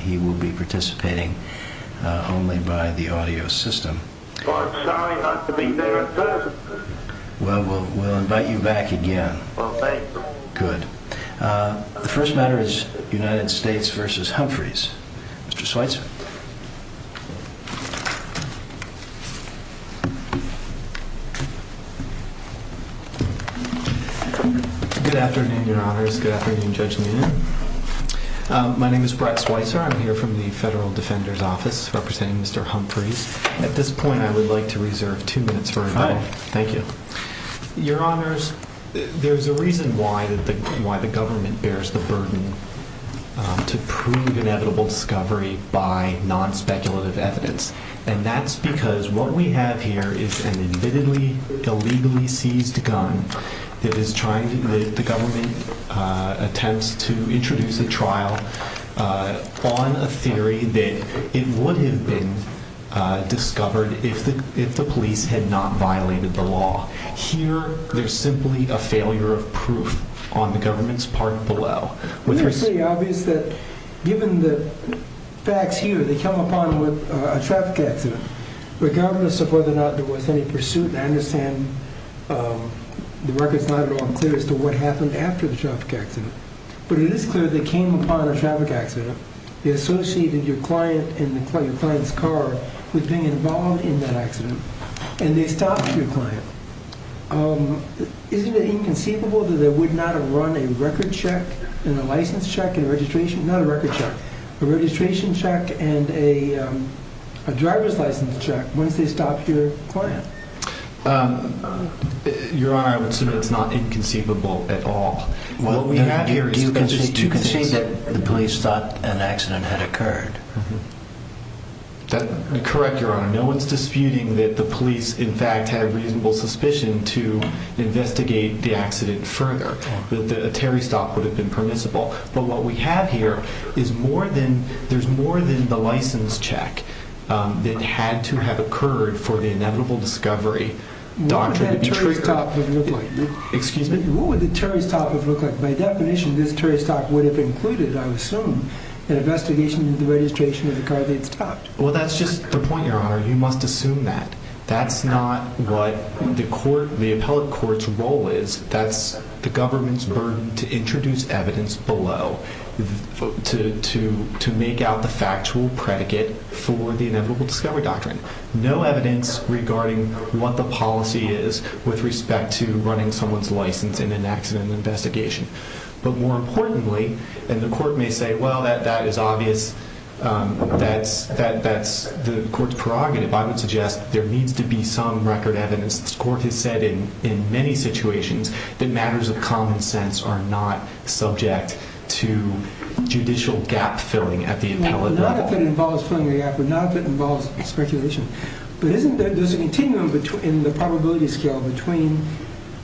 He will be participating only by the audio system. Well, I'm sorry not to be there in person. Well, we'll invite you back again. Well, thank you. Good. The first matter is United States v. Humphries. Mr. Schweitzer. Good afternoon, Your Honors. Good afternoon, Judge Leone. My name is Brett Schweitzer. I'm here from the Federal Defender's Office representing Mr. Humphries. At this point, I would like to reserve two minutes for rebuttal. Thank you. Your Honors, there's a reason why the government bears the burden to prove inevitable discovery by non-speculative evidence. And that's because what we have here is an admittedly illegally seized gun that the government attempts to introduce a trial on a theory that it would have been discovered if the police had not violated the law. Here, there's simply a failure of proof on the government's part below. Obviously, given the facts here, they come upon a traffic accident. Regardless of whether or not there was any pursuit, I understand the record's not at all clear as to what happened after the traffic accident. But it is clear they came upon a traffic accident. They associated your client and your client's car with being involved in that accident, and they stopped your client. Isn't it inconceivable that they would not have run a record check Your Honor, I would submit it's not inconceivable at all. What we have here is the police thought an accident had occurred. Correct, Your Honor. No one's disputing that the police, in fact, had a reasonable suspicion to investigate the accident further. A Terry stop would have been permissible. But what we have here is more than the license check that had to have occurred for the inevitable discovery. What would that Terry stop have looked like? Excuse me? What would the Terry stop have looked like? By definition, this Terry stop would have included, I assume, an investigation into the registration of the car that it stopped. Well, that's just the point, Your Honor. You must assume that. That's not what the appellate court's role is. That's the government's burden to introduce evidence below to make out the factual predicate for the inevitable discovery doctrine. No evidence regarding what the policy is with respect to running someone's license in an accident investigation. But more importantly, and the court may say, well, that is obvious, that's the court's prerogative. I would suggest there needs to be some record evidence. The court has said in many situations that matters of common sense are not subject to judicial gap-filling at the appellate level. Not if it involves filling the gap, but not if it involves speculation. But isn't there a continuum in the probability scale between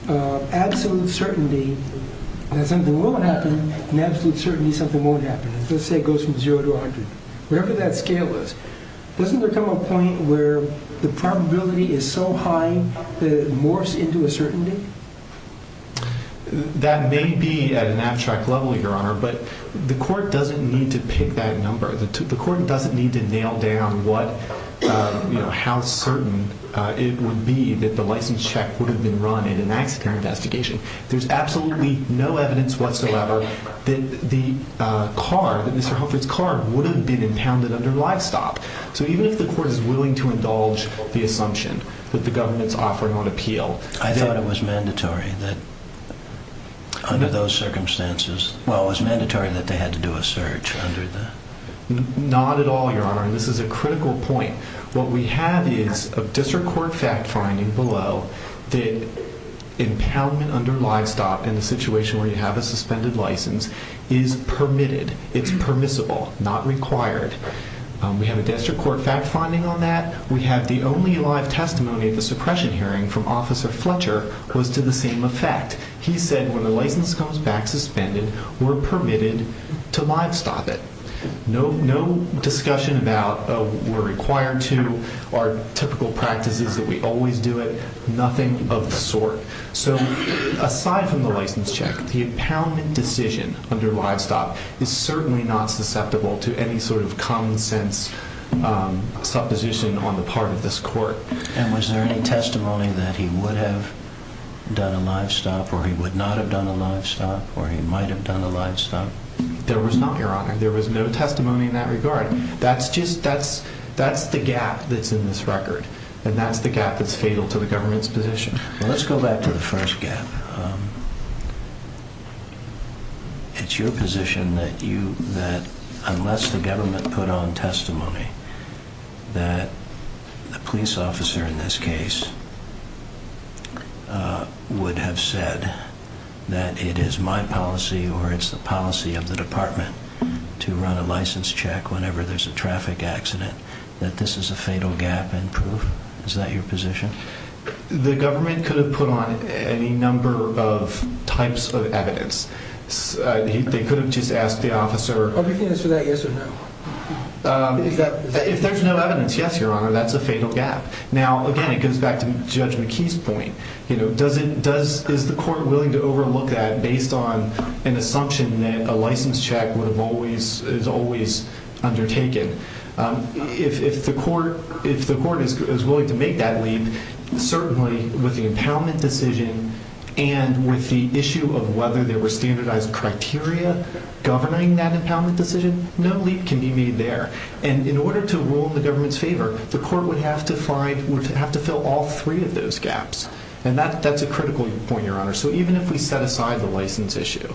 absolute certainty that something will happen and absolute certainty something won't happen? Let's say it goes from 0 to 100. Whatever that scale is, doesn't there come a point where the probability is so high that it morphs into a certainty? That may be at an abstract level, Your Honor, but the court doesn't need to pick that number. The court doesn't need to nail down how certain it would be that the license check would have been run in an accident investigation. There's absolutely no evidence whatsoever that Mr. Hufford's car would have been impounded under livestock. So even if the court is willing to indulge the assumption that the government's offering on appeal... I thought it was mandatory that under those circumstances... Well, it was mandatory that they had to do a search under the... Not at all, Your Honor, and this is a critical point. What we have is a district court fact finding below that impoundment under livestock in a situation where you have a suspended license is permitted, it's permissible, not required. We have a district court fact finding on that. We have the only live testimony of the suppression hearing from Officer Fletcher was to the same effect. He said when the license comes back suspended, we're permitted to livestock it. No discussion about we're required to, our typical practice is that we always do it, nothing of the sort. So aside from the license check, the impoundment decision under livestock is certainly not susceptible to any sort of common sense supposition on the part of this court. And was there any testimony that he would have done a livestock or he would not have done a livestock or he might have done a livestock? There was not, Your Honor. There was no testimony in that regard. That's the gap that's in this record, and that's the gap that's fatal to the government's position. Let's go back to the first gap. It's your position that unless the government put on testimony that the police officer in this case would have said that it is my policy or it's the policy of the department to run a license check whenever there's a traffic accident, that this is a fatal gap in proof? Is that your position? The government could have put on any number of types of evidence. They could have just asked the officer. Are you saying yes or no? If there's no evidence, yes, Your Honor, that's a fatal gap. Now, again, it goes back to Judge McKee's point. Is the court willing to overlook that based on an assumption that a license check is always undertaken? If the court is willing to make that leap, certainly with the impoundment decision and with the issue of whether there were standardized criteria governing that impoundment decision, no leap can be made there. And in order to rule in the government's favor, the court would have to fill all three of those gaps, and that's a critical point, Your Honor. So even if we set aside the license issue,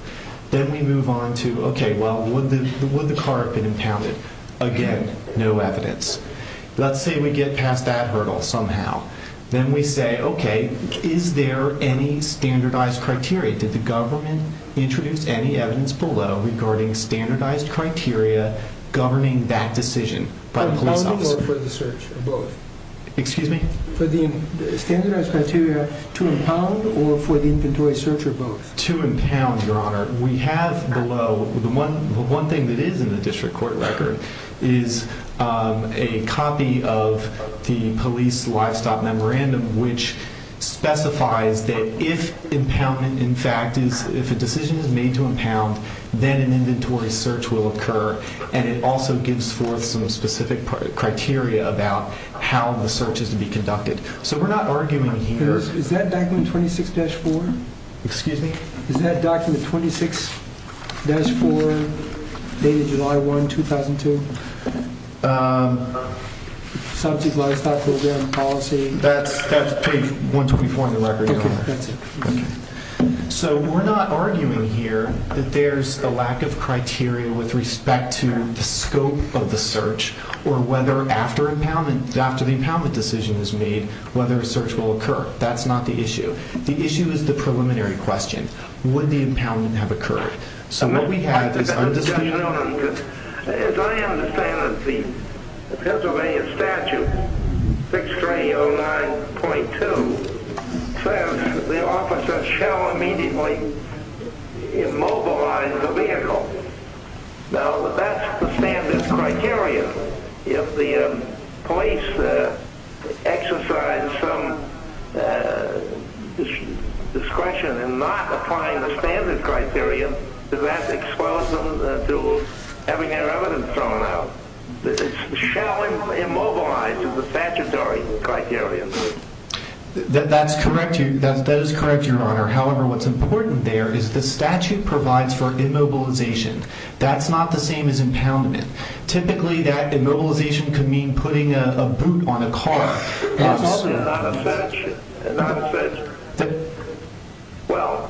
then we move on to, okay, well, would the car have been impounded? Again, no evidence. Let's say we get past that hurdle somehow. Then we say, okay, is there any standardized criteria? Did the government introduce any evidence below regarding standardized criteria governing that decision by the police officer? Impounded or for the search of both? Excuse me? For the standardized criteria to impound or for the inventory search or both? To impound, Your Honor. We have below the one thing that is in the district court record is a copy of the police livestock memorandum which specifies that if impoundment in fact is if a decision is made to impound, then an inventory search will occur, and it also gives forth some specific criteria about how the search is to be conducted. So we're not arguing here. Is that document 26-4? Excuse me? Is that document 26-4 dated July 1, 2002? Subject livestock program policy. That's page 124 in the record, Your Honor. Okay, that's it. So we're not arguing here that there's a lack of criteria with respect to the scope of the search or whether after the impoundment decision is made whether a search will occur. That's not the issue. The issue is the preliminary question. Would the impoundment have occurred? As I understand it, the Pennsylvania statute 6309.2 says the officer shall immediately immobilize the vehicle. Now, that's the standard criteria. If the police exercise some discretion in not applying the standard criteria, does that expose them to having their evidence thrown out? Shall immobilize is the statutory criteria. That is correct, Your Honor. However, what's important there is the statute provides for immobilization. That's not the same as impoundment. Typically, that immobilization could mean putting a boot on a car. Well, it's obviously not a search. It's not a search. Well,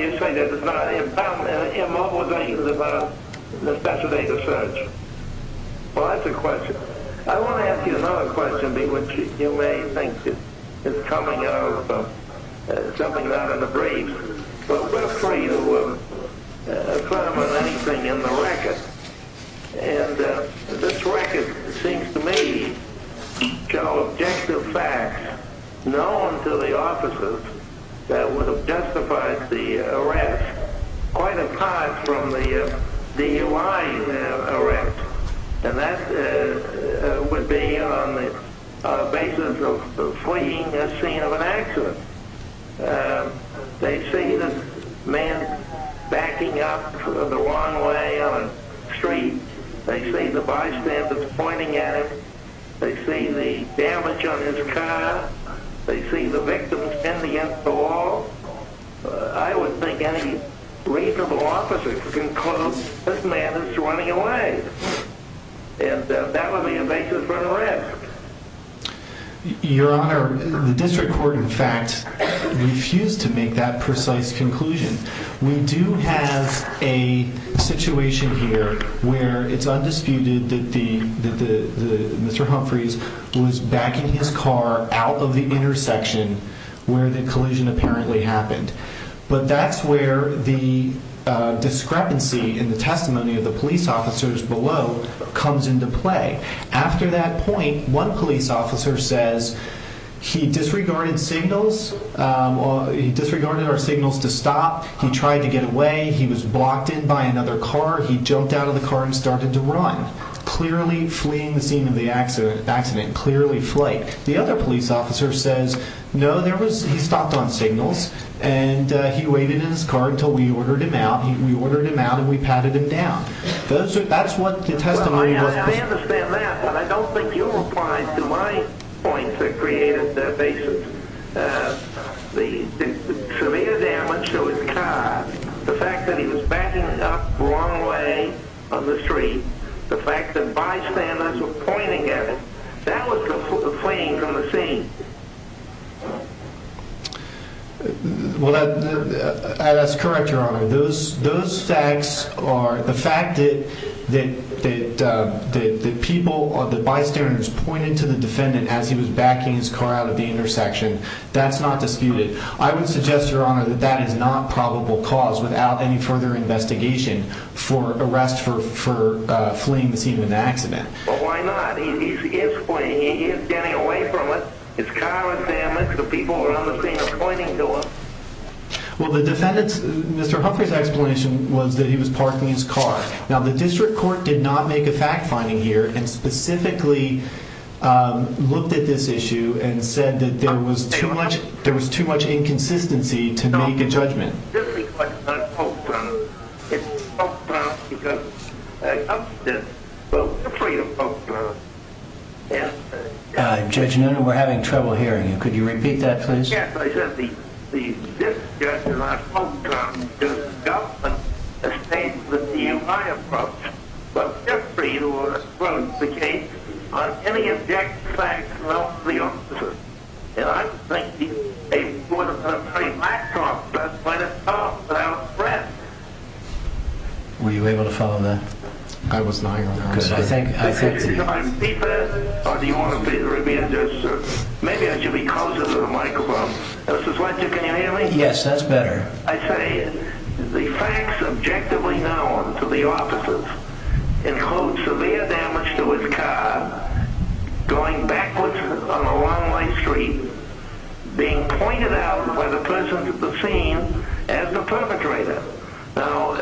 you say that it's not an impoundment. Immobilization is a better date of search. Well, that's a question. I want to ask you another question, which you may think is coming out of something out of the brief. But we're free to affirm on anything in the record. And this record seems to me to show objective facts known to the officers that would have justified the arrest quite apart from the DUI arrest. And that would be on the basis of fleeing a scene of an accident. They see this man backing up the wrong way on a street. They see the bystanders pointing at him. They see the damage on his car. They see the victim standing against the wall. I would think any reasonable officer could conclude this man is running away. And that would be a basis for an arrest. Your Honor, the district court, in fact, refused to make that precise conclusion. We do have a situation here where it's undisputed that Mr. Humphreys was backing his car out of the intersection where the collision apparently happened. But that's where the discrepancy in the testimony of the police officers below comes into play. After that point, one police officer says he disregarded signals. He disregarded our signals to stop. He tried to get away. He was blocked in by another car. He jumped out of the car and started to run, clearly fleeing the scene of the accident, clearly flight. The other police officer says, no, he stopped on signals, and he waited in his car until we ordered him out. We ordered him out, and we patted him down. I understand that, but I don't think you replied to my points that created that basis. The severe damage to his car, the fact that he was backing up the wrong way on the street, the fact that bystanders were pointing at him, that was completely fleeing from the scene. That's correct, Your Honor. Those facts are the fact that people or the bystanders pointed to the defendant as he was backing his car out of the intersection. That's not disputed. I would suggest, Your Honor, that that is not probable cause without any further investigation for arrest for fleeing the scene of an accident. Well, why not? He is fleeing. He is getting away from it. His car is damaged. The people around the scene are pointing to him. Well, Mr. Humphrey's explanation was that he was parking his car. Now, the district court did not make a fact-finding here and specifically looked at this issue and said that there was too much inconsistency to make a judgment. Judge Nenner, we're having trouble hearing you. Could you repeat that, please? Yes, Your Honor. Were you able to follow that? I was not, Your Honor. Because I think... Maybe I should be closer to the microphone. Can you hear me? Yes, that's better. I say the facts objectively known to the officers include severe damage to his car going backwards on a long white street, being pointed out by the person at the scene as the perpetrator. Now,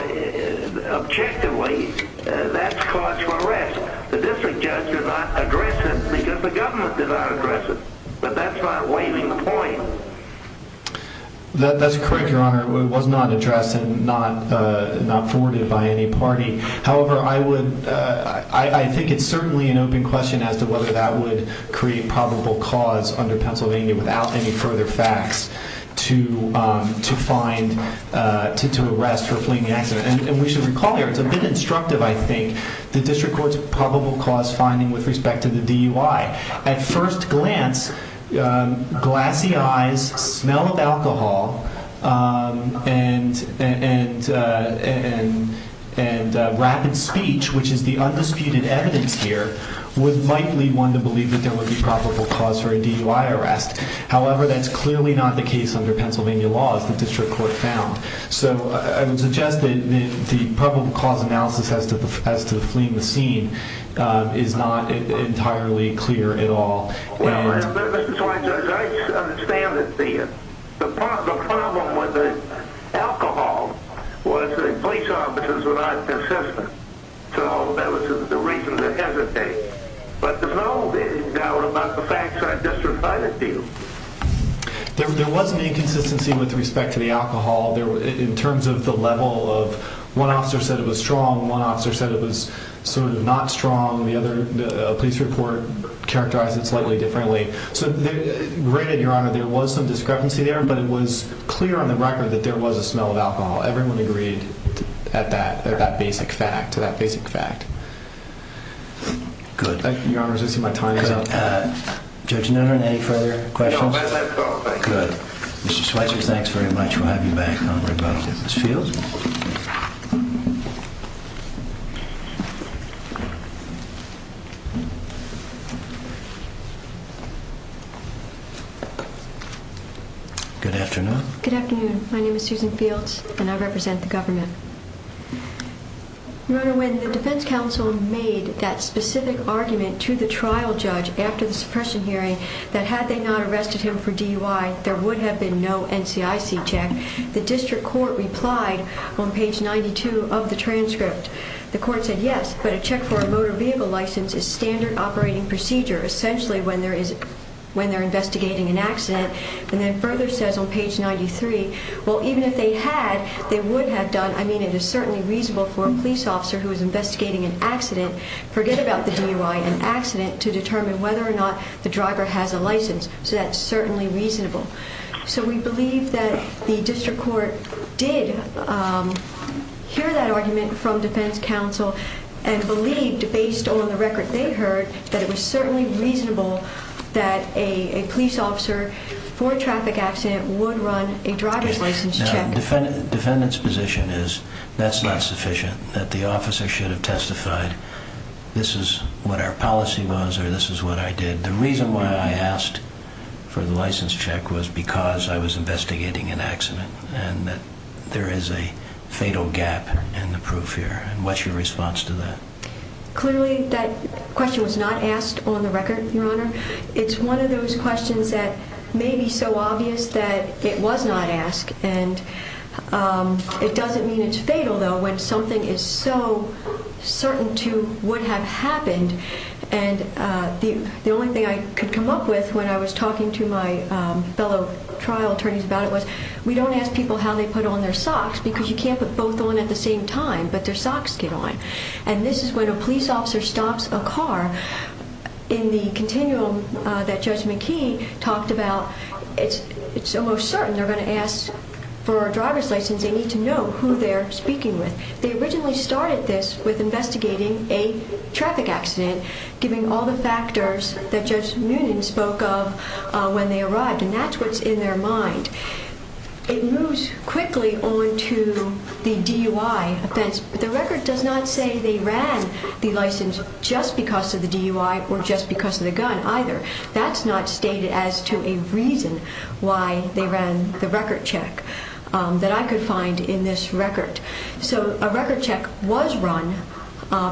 objectively, that's cause for arrest. The district judge did not address it because the government did not address it. But that's not waiving the point. That's correct, Your Honor. It was not addressed and not forwarded by any party. However, I would... I think it's certainly an open question as to whether that would create probable cause under Pennsylvania without any further facts to find, to arrest for fleeing the accident. And we should recall here, it's a bit instructive, I think, the district court's probable cause finding with respect to the DUI. At first glance, glassy eyes, smell of alcohol, and rapid speech, which is the undisputed evidence here, would likely lead one to believe that there would be probable cause for a DUI arrest. However, that's clearly not the case under Pennsylvania law, as the district court found. So, I would suggest that the probable cause analysis as to the fleeing the scene is not entirely clear at all. Well, Mr. Swine, as I understand it, the problem with the alcohol was that police officers were not consistent. So, that was the reason to hesitate. But there's no doubt about the facts I just provided to you. There was an inconsistency with respect to the alcohol. In terms of the level of, one officer said it was strong, one officer said it was sort of not strong. The other police report characterized it slightly differently. So, granted, Your Honor, there was some discrepancy there, but it was clear on the record that there was a smell of alcohol. Everyone agreed at that basic fact. Good. Your Honor, as I see my time is up. Judge Nederen, any further questions? No, that's it. Good. Mr. Schweitzer, thanks very much. We'll have you back on rebuttal. Ms. Fields? Good afternoon. Good afternoon. My name is Susan Fields, and I represent the government. Your Honor, when the defense counsel made that specific argument to the trial judge after the suppression hearing, that had they not arrested him for DUI, there would have been no NCIC check, the district court replied on page 92 of the transcript. The court said, yes, but a check for a motor vehicle license is standard operating procedure, essentially when they're investigating an accident, and then further says on page 93, well, even if they had, they would have done, I mean, it is certainly reasonable for a police officer who is investigating an accident, forget about the DUI, an accident, to determine whether or not the driver has a license, so that's certainly reasonable. So we believe that the district court did hear that argument from defense counsel and believed, based on the record they heard, that it was certainly reasonable that a police officer for a traffic accident would run a driver's license check. The defendant's position is that's not sufficient, that the officer should have testified, this is what our policy was or this is what I did. The reason why I asked for the license check was because I was investigating an accident and that there is a fatal gap in the proof here, and what's your response to that? Clearly that question was not asked on the record, Your Honor. It's one of those questions that may be so obvious that it was not asked, and it doesn't mean it's fatal, though, when something is so certain to what had happened. And the only thing I could come up with when I was talking to my fellow trial attorneys about it was we don't ask people how they put on their socks because you can't put both on at the same time, but their socks get on, and this is when a police officer stops a car in the continuum that Judge McKee talked about. It's almost certain they're going to ask for a driver's license. They need to know who they're speaking with. They originally started this with investigating a traffic accident, giving all the factors that Judge Moonen spoke of when they arrived, and that's what's in their mind. It moves quickly on to the DUI offense, but the record does not say they ran the license just because of the DUI or just because of the gun either. That's not stated as to a reason why they ran the record check that I could find in this record. So a record check was run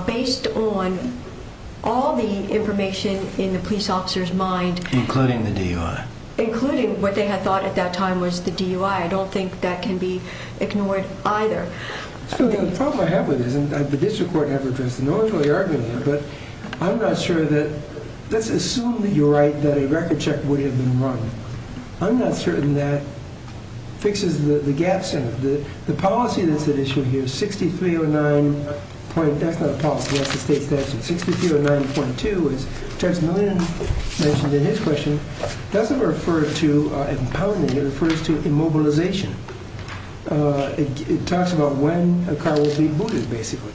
based on all the information in the police officer's mind. Including the DUI. Including what they had thought at that time was the DUI. I don't think that can be ignored either. So the problem I have with this, and the district court never addressed it, no one's really arguing it, but I'm not sure that, let's assume that you're right, that a record check would have been run. I'm not certain that fixes the gaps in it. The policy that's at issue here, 6309.2, as Judge Moonen mentioned in his question, doesn't refer to impounding, it refers to immobilization. It talks about when a car will be booted, basically.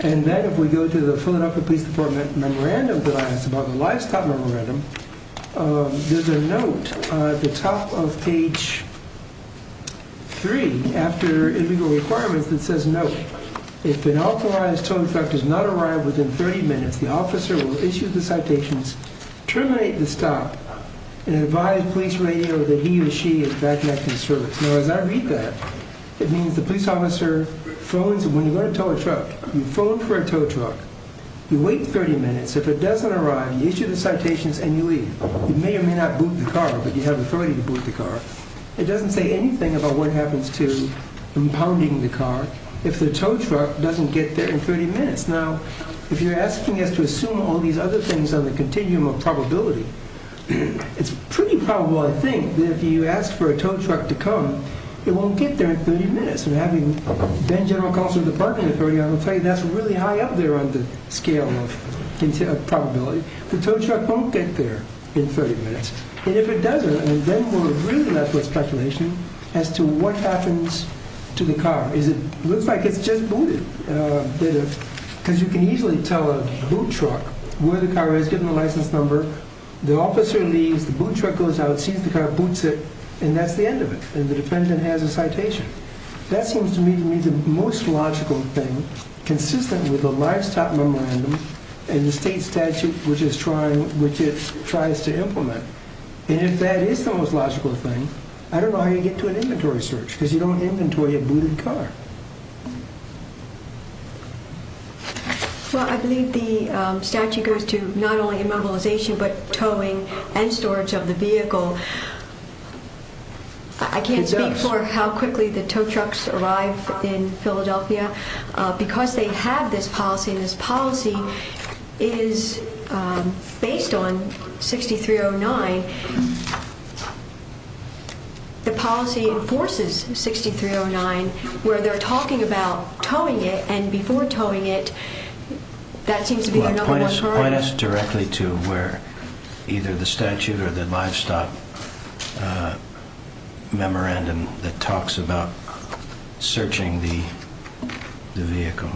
And then if we go to the Philadelphia Police Department memorandum that I asked about, the livestock memorandum, there's a note at the top of page 3, after illegal requirements, that says, no, if an authorized tow truck does not arrive within 30 minutes, the officer will issue the citations, terminate the stop, and advise police radio that he or she is back in service. Now, as I read that, it means the police officer phones, when you go to tow a truck, you phone for a tow truck, you wait 30 minutes, if it doesn't arrive, you issue the citations and you leave. You may or may not boot the car, but you have authority to boot the car. It doesn't say anything about what happens to impounding the car if the tow truck doesn't get there in 30 minutes. Now, if you're asking us to assume all these other things on the continuum of probability, it's pretty probable, I think, that if you ask for a tow truck to come, it won't get there in 30 minutes. And having been General Counsel to the Department of the Philadelphia, that's really high up there on the scale of probability. The tow truck won't get there in 30 minutes. And if it doesn't, then we'll agree to that speculation as to what happens to the car. It looks like it's just booted, because you can easily tell a boot truck where the car is, you give them the license number, the officer leaves, the boot truck goes out, sees the car, boots it, and that's the end of it. And the defendant has a citation. That seems to me to be the most logical thing, consistent with the livestock memorandum and the state statute which it tries to implement. And if that is the most logical thing, I don't know how you get to an inventory search, because you don't inventory a booted car. Well, I believe the statute goes to not only immobilization, but towing and storage of the vehicle. I can't speak for how quickly the tow trucks arrive in Philadelphia. Because they have this policy, and this policy is based on 6309, the policy enforces 6309, where they're talking about towing it, and before towing it, that seems to be the number one priority. Point us directly to where either the statute or the livestock memorandum that talks about searching the vehicle.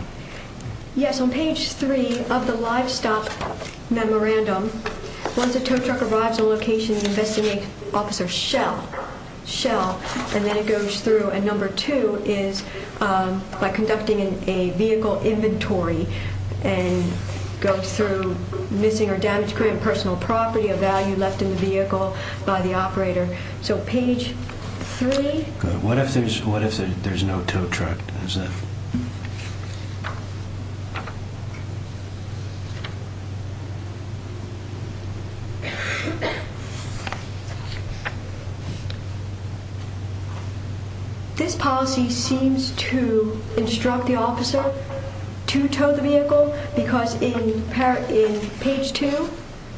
Yes, on page 3 of the livestock memorandum, once a tow truck arrives on location, investigate Officer Schell, and then it goes through, and number 2 is by conducting a vehicle inventory and go through missing or damaged current personal property, a value left in the vehicle by the operator. So page 3. What if there's no tow truck? This policy seems to instruct the officer to tow the vehicle, because in page 2,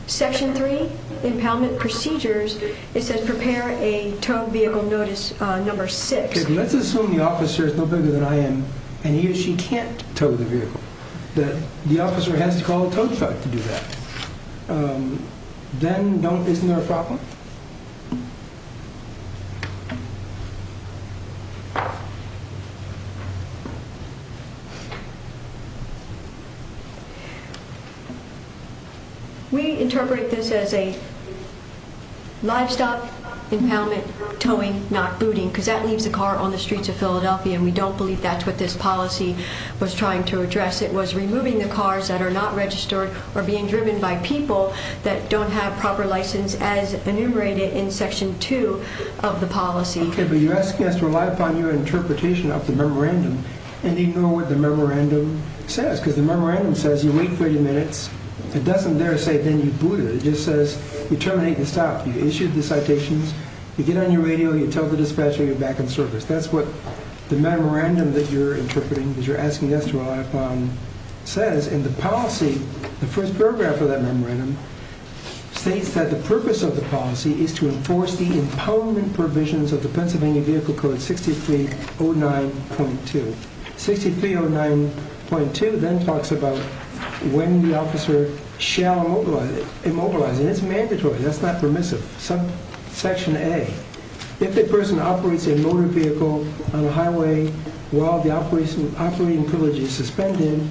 section 3, impoundment procedures, it says prepare a tow vehicle notice number 6. Let's assume the officer is no bigger than I am, and he or she can't tow the vehicle. The officer has to call a tow truck to do that. Then isn't there a problem? We interpret this as a livestock impoundment, towing, not booting, because that leaves a car on the streets of Philadelphia, and we don't believe that's what this policy was trying to address. It was removing the cars that are not registered or being driven by people that don't have proper license as enumerated in section 2 of the policy. Okay, but you're asking us to rely upon your interpretation of the memorandum and ignore what the memorandum says, because the memorandum says you wait 30 minutes. It doesn't there say then you boot it. It just says you terminate and stop. You issue the citations, you get on your radio, you tell the dispatcher you're back in service. That's what the memorandum that you're interpreting, that you're asking us to rely upon, says. And the policy, the first paragraph of that memorandum, states that the purpose of the policy is to enforce the impoundment provisions of the Pennsylvania Vehicle Code 6309.2. 6309.2 then talks about when the officer shall immobilize. And it's mandatory. That's not permissive. Section A, if a person operates a motor vehicle on a highway while the operating privilege is suspended,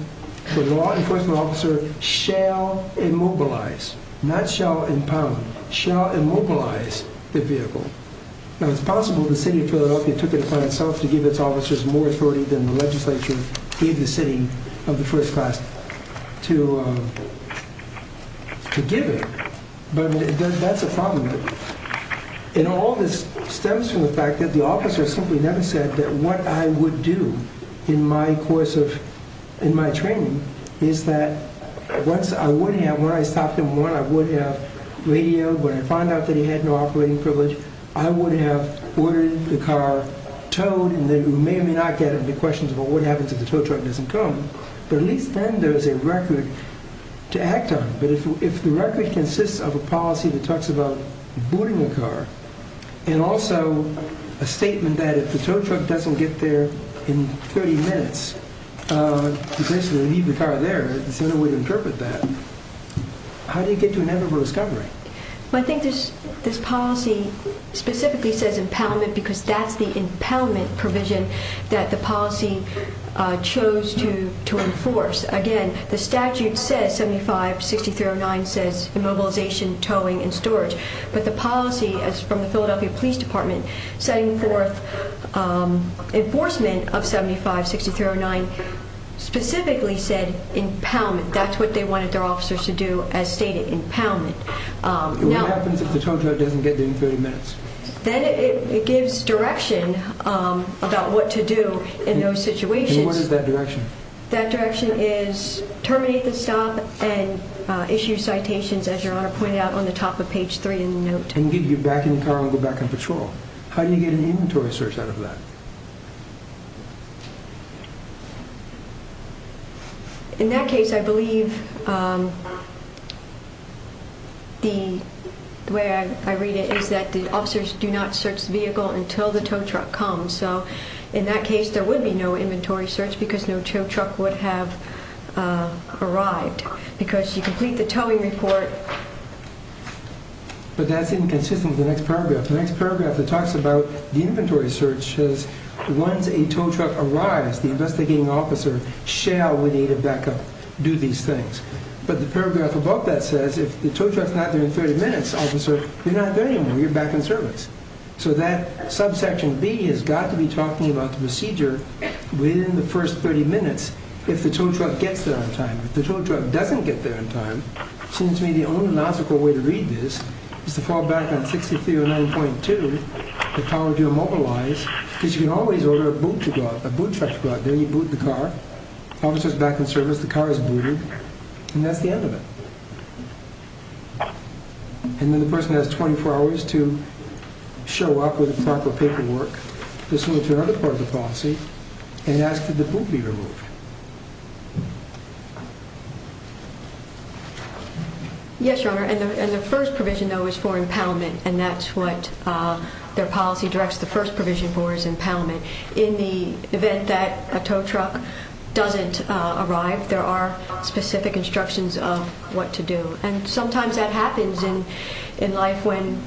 the law enforcement officer shall immobilize, not shall impound, shall immobilize the vehicle. Now, it's possible the city of Philadelphia took it upon itself to give its officers more authority than the legislature gave the city of the first class to give it. But that's a problem. And all this stems from the fact that the officer simply never said that what I would do in my course of, in my training, is that once I would have, when I stopped him, when I would have radioed, when I found out that he had no operating privilege, I would have ordered the car towed, and then you may or may not get into questions about what happens if the tow truck doesn't come. But at least then there is a record to act on. But if the record consists of a policy that talks about boarding a car and also a statement that if the tow truck doesn't get there in 30 minutes, you basically leave the car there, there's no way to interpret that, how do you get to inevitable discovery? Well, I think this policy specifically says impoundment because that's the impoundment provision that the policy chose to enforce. Again, the statute says 75-6309 says immobilization, towing, and storage. But the policy from the Philadelphia Police Department setting forth enforcement of 75-6309 specifically said impoundment. That's what they wanted their officers to do as stated, impoundment. What happens if the tow truck doesn't get there in 30 minutes? Then it gives direction about what to do in those situations. And what is that direction? That direction is terminate the stop and issue citations, as Your Honor pointed out on the top of page 3 in the note. And get you back in the car and go back on patrol. How do you get an inventory search out of that? In that case, I believe the way I read it is that the officers do not search the vehicle until the tow truck comes. And so in that case, there would be no inventory search because no tow truck would have arrived. Because you complete the towing report. But that's inconsistent with the next paragraph. The next paragraph that talks about the inventory search says once a tow truck arrives, the investigating officer shall, with the aid of backup, do these things. But the paragraph above that says if the tow truck's not there in 30 minutes, officer, you're not there anymore, you're back in service. So that subsection B has got to be talking about the procedure within the first 30 minutes if the tow truck gets there on time. If the tow truck doesn't get there on time, it seems to me the only logical way to read this is to fall back on 6309.2, the power to immobilize, because you can always order a boot truck to go out there. You boot the car. Officer's back in service. The car is booted. And that's the end of it. And then the person has 24 hours to show up with the proper paperwork. This leads to another part of the policy, and that's could the boot be removed. Yes, Your Honor, and the first provision, though, is for impoundment, and that's what their policy directs. The first provision for is impoundment. In the event that a tow truck doesn't arrive, there are specific instructions of what to do. And sometimes that happens in life when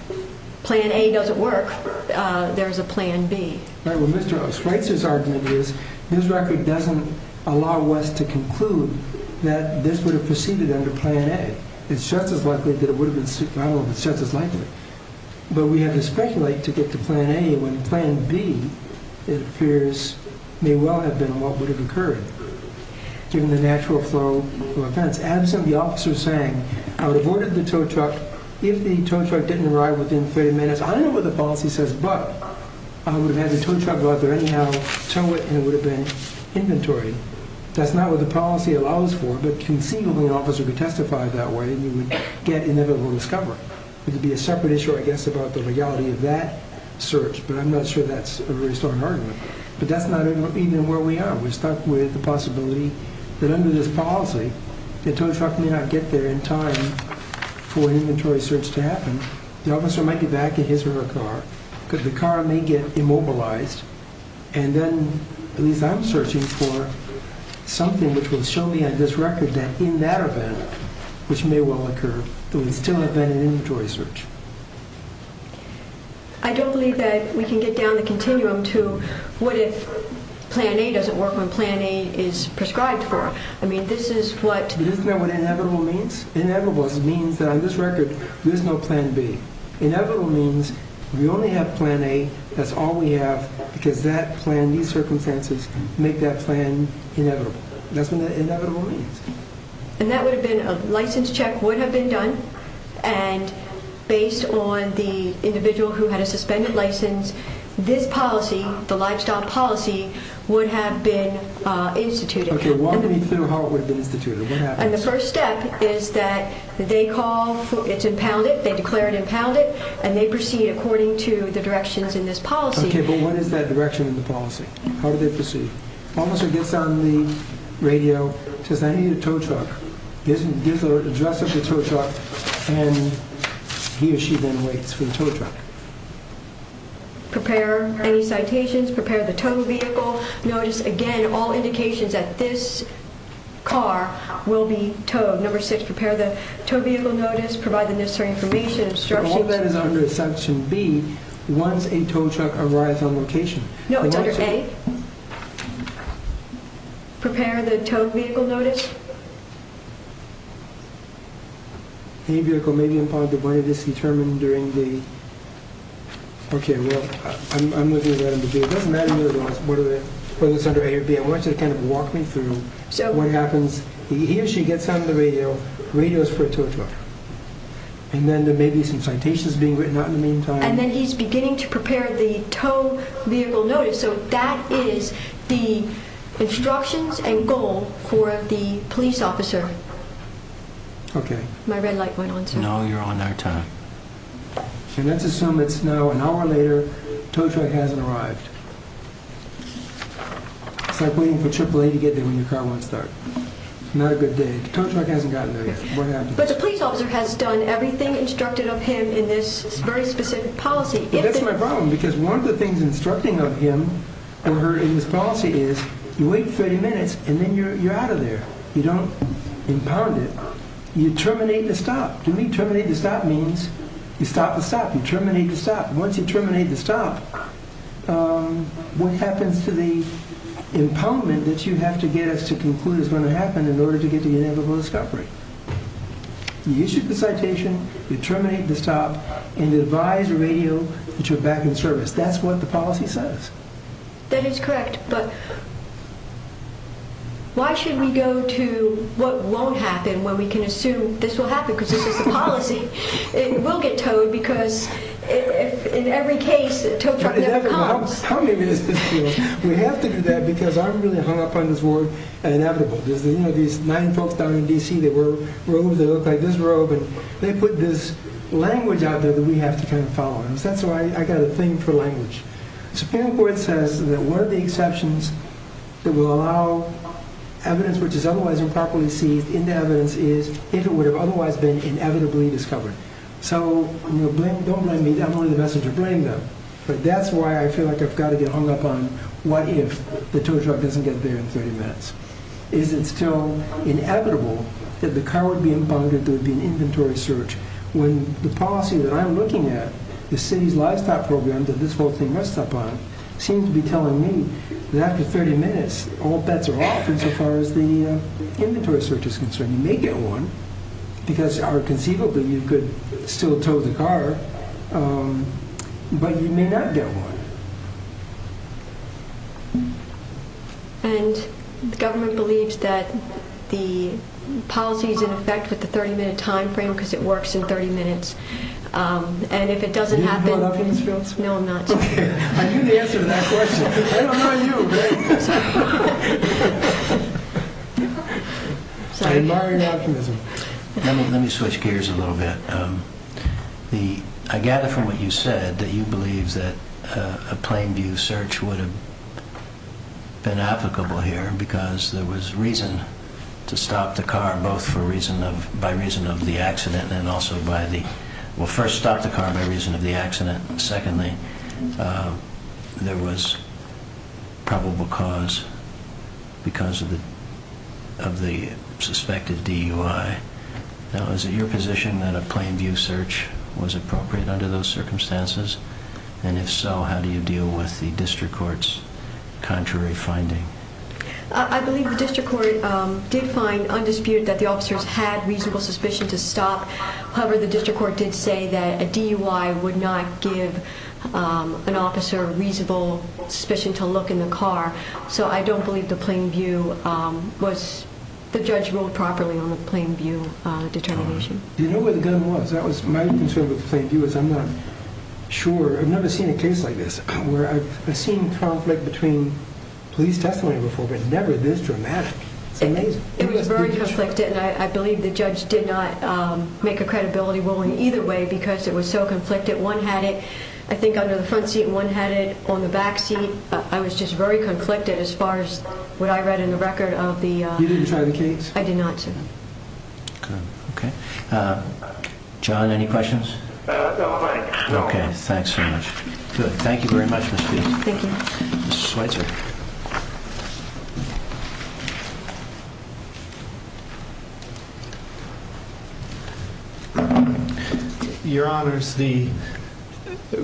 Plan A doesn't work. There's a Plan B. All right, well, Mr. Osweitzer's argument is his record doesn't allow us to conclude that this would have proceeded under Plan A. It's just as likely that it would have been, I don't know, it's just as likely. But we have to speculate to get to Plan A when Plan B, it appears, may well have been what would have occurred. Given the natural flow of events. Absent the officer saying, I would have ordered the tow truck if the tow truck didn't arrive within 30 minutes. I don't know what the policy says, but I would have had the tow truck go out there anyhow, tow it, and it would have been inventory. That's not what the policy allows for, but conceivably an officer could testify that way, and you would get inevitable discovery. It would be a separate issue, I guess, about the reality of that search, but I'm not sure that's a very strong argument. But that's not even where we are. We're stuck with the possibility that under this policy, the tow truck may not get there in time for an inventory search to happen. The officer might be back in his or her car, because the car may get immobilized, and then at least I'm searching for something which will show me on this record that in that event, which may well occur, there would still have been an inventory search. I don't believe that we can get down the continuum to what if Plan A doesn't work when Plan A is prescribed for. I mean, this is what... Isn't that what inevitable means? Inevitable means that on this record, there's no Plan B. Inevitable means we only have Plan A. That's all we have, because that plan, these circumstances, make that plan inevitable. That's what inevitable means. And that would have been a license check would have been done, and based on the individual who had a suspended license, this policy, the livestock policy, would have been instituted. Okay, walk me through how it would have been instituted. What happens? And the first step is that they call... It's impounded. They declare it impounded, and they proceed according to the directions in this policy. Okay, but what is that direction in the policy? How do they proceed? Officer gets on the radio, says, I need a tow truck. Gives the address of the tow truck, and he or she then waits for the tow truck. Prepare any citations. Prepare the tow vehicle notice. Again, all indications that this car will be towed. Number six, prepare the tow vehicle notice. Provide the necessary information. All that is under Section B once a tow truck arrives on location. No, it's under A. Prepare the tow vehicle notice. Any vehicle may be impounded, but it is determined during the... Okay, well, I'm looking at that under B. It doesn't matter whether it's under A or B. I want you to kind of walk me through what happens. He or she gets on the radio. Radio is for a tow truck. And then there may be some citations being written out in the meantime. And then he's beginning to prepare the tow vehicle notice. So that is the instructions and goal for the police officer. Okay. My red light went on, sir. No, you're on our time. And let's assume it's now an hour later. Tow truck hasn't arrived. It's like waiting for AAA to get there when your car won't start. Not a good day. Tow truck hasn't gotten there yet. What happens? But the police officer has done everything instructed of him in this very specific policy. That's my problem, because one of the things instructing of him or her in this policy is you wait 30 minutes, and then you're out of there. You don't impound it. You terminate the stop. To me, terminate the stop means you stop the stop. You terminate the stop. Once you terminate the stop, what happens to the impoundment that you have to get us to conclude is going to happen in order to get to the inevitable discovery? You issue the citation, you terminate the stop, and you advise the radio that you're back in service. That's what the policy says. That is correct. But why should we go to what won't happen when we can assume this will happen? Because this is a policy. It will get towed, because in every case, a tow truck never comes. How many minutes does it take? We have to do that because I'm really hung up on this word inevitable. There's these nine folks down in D.C. They wear robes that look like this robe, and they put this language out there that we have to kind of follow. That's why I got a thing for language. The Supreme Court says that one of the exceptions that will allow evidence which is otherwise improperly seized into evidence is if it would have otherwise been inevitably discovered. So don't blame me. I'm only the messenger bringing them. But that's why I feel like I've got to get hung up on what if the tow truck doesn't get there in 30 minutes. Is it still inevitable that the car would be impounded, there would be an inventory search, when the policy that I'm looking at, the city's livestock program that this whole thing rests upon, seems to be telling me that after 30 minutes, all bets are off as far as the inventory search is concerned. You may get one because conceivably you could still tow the car, but you may not get one. The government believes that the policy is in effect with the 30-minute time frame because it works in 30 minutes. And if it doesn't happen, no, I'm not sure. I knew the answer to that question. I don't know you, babe. I admire your optimism. Let me switch gears a little bit. I gather from what you said that you believe that a plain view search would have been applicable here because there was reason to stop the car, both by reason of the accident and also by the… Well, first, stop the car by reason of the accident. Secondly, there was probable cause because of the suspected DUI. Now, is it your position that a plain view search was appropriate under those circumstances? And if so, how do you deal with the district court's contrary finding? I believe the district court did find undisputed that the officers had reasonable suspicion to stop. However, the district court did say that a DUI would not give an officer reasonable suspicion to look in the car. So I don't believe the plain view was… the judge ruled properly on the plain view determination. Do you know where the gun was? My concern with the plain view is I'm not sure. I've never seen a case like this where I've seen conflict between police testimony before, but never this dramatic. It's amazing. It was very conflicted, and I believe the judge did not make a credibility ruling either way because it was so conflicted. One had it, I think, under the front seat. One had it on the back seat. I was just very conflicted as far as what I read in the record of the… You didn't try the case? I did not, sir. Okay. John, any questions? No, I'm fine. Okay. Thanks so much. Good. Thank you very much, Ms. Fields. Thank you. Mr. Schweitzer. Your Honors, the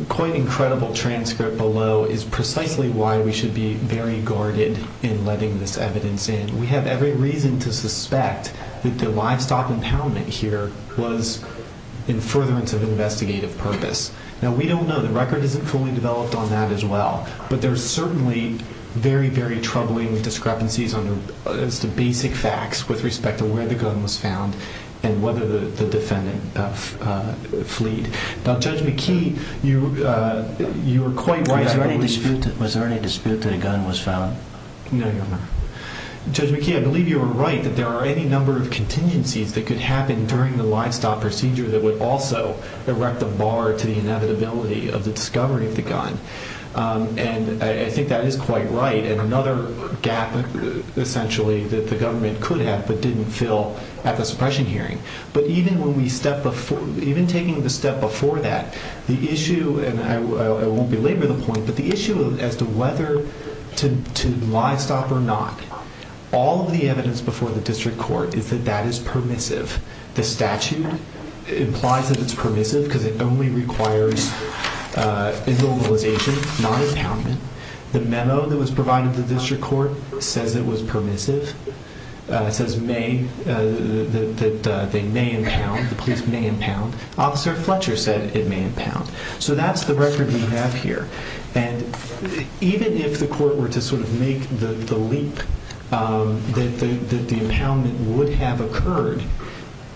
quite incredible transcript below is precisely why we should be very guarded in letting this evidence in. We have every reason to suspect that the livestock impoundment here was in furtherance of investigative purpose. Now, we don't know. The record isn't fully developed on that as well, but there's certainly very, very troubling discrepancies as to basic facts with respect to where the gun was found and whether the defendant fleed. Now, Judge McKee, you were quite right. Was there any dispute that a gun was found? No, Your Honor. Judge McKee, I believe you were right that there are any number of contingencies that could happen during the livestock procedure that would also erect a bar to the inevitability of the discovery of the gun. And I think that is quite right, and another gap essentially that the government could have but didn't fill at the suppression hearing. But even taking the step before that, the issue, and I won't belabor the point, but the issue as to whether to livestock or not, all of the evidence before the district court is that that is permissive. The statute implies that it's permissive because it only requires immobilization, not impoundment. The memo that was provided to the district court says it was permissive, says they may impound, the police may impound. Officer Fletcher said it may impound. So that's the record we have here. And even if the court were to sort of make the leap that the impoundment would have occurred,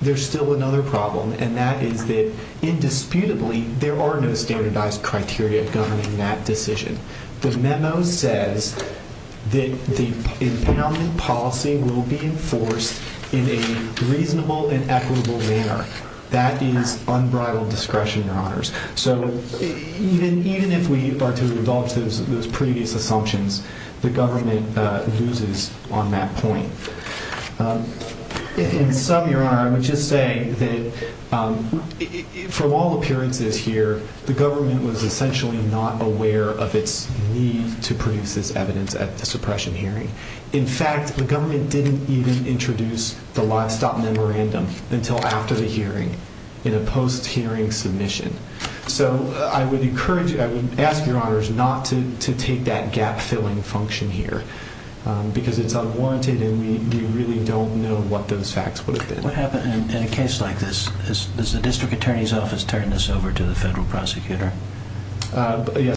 there's still another problem, and that is that indisputably there are no standardized criteria governing that decision. The memo says that the impoundment policy will be enforced in a reasonable and equitable manner. That is unbridled discretion, Your Honors. So even if we are to revoke those previous assumptions, the government loses on that point. In sum, Your Honor, I would just say that from all appearances here, the government was essentially not aware of its need to produce this evidence at the suppression hearing. In fact, the government didn't even introduce the livestock memorandum until after the hearing in a post-hearing submission. So I would ask Your Honors not to take that gap-filling function here because it's unwarranted, and we really don't know what those facts would have been. What happened in a case like this? Has the district attorney's office turned this over to the federal prosecutor?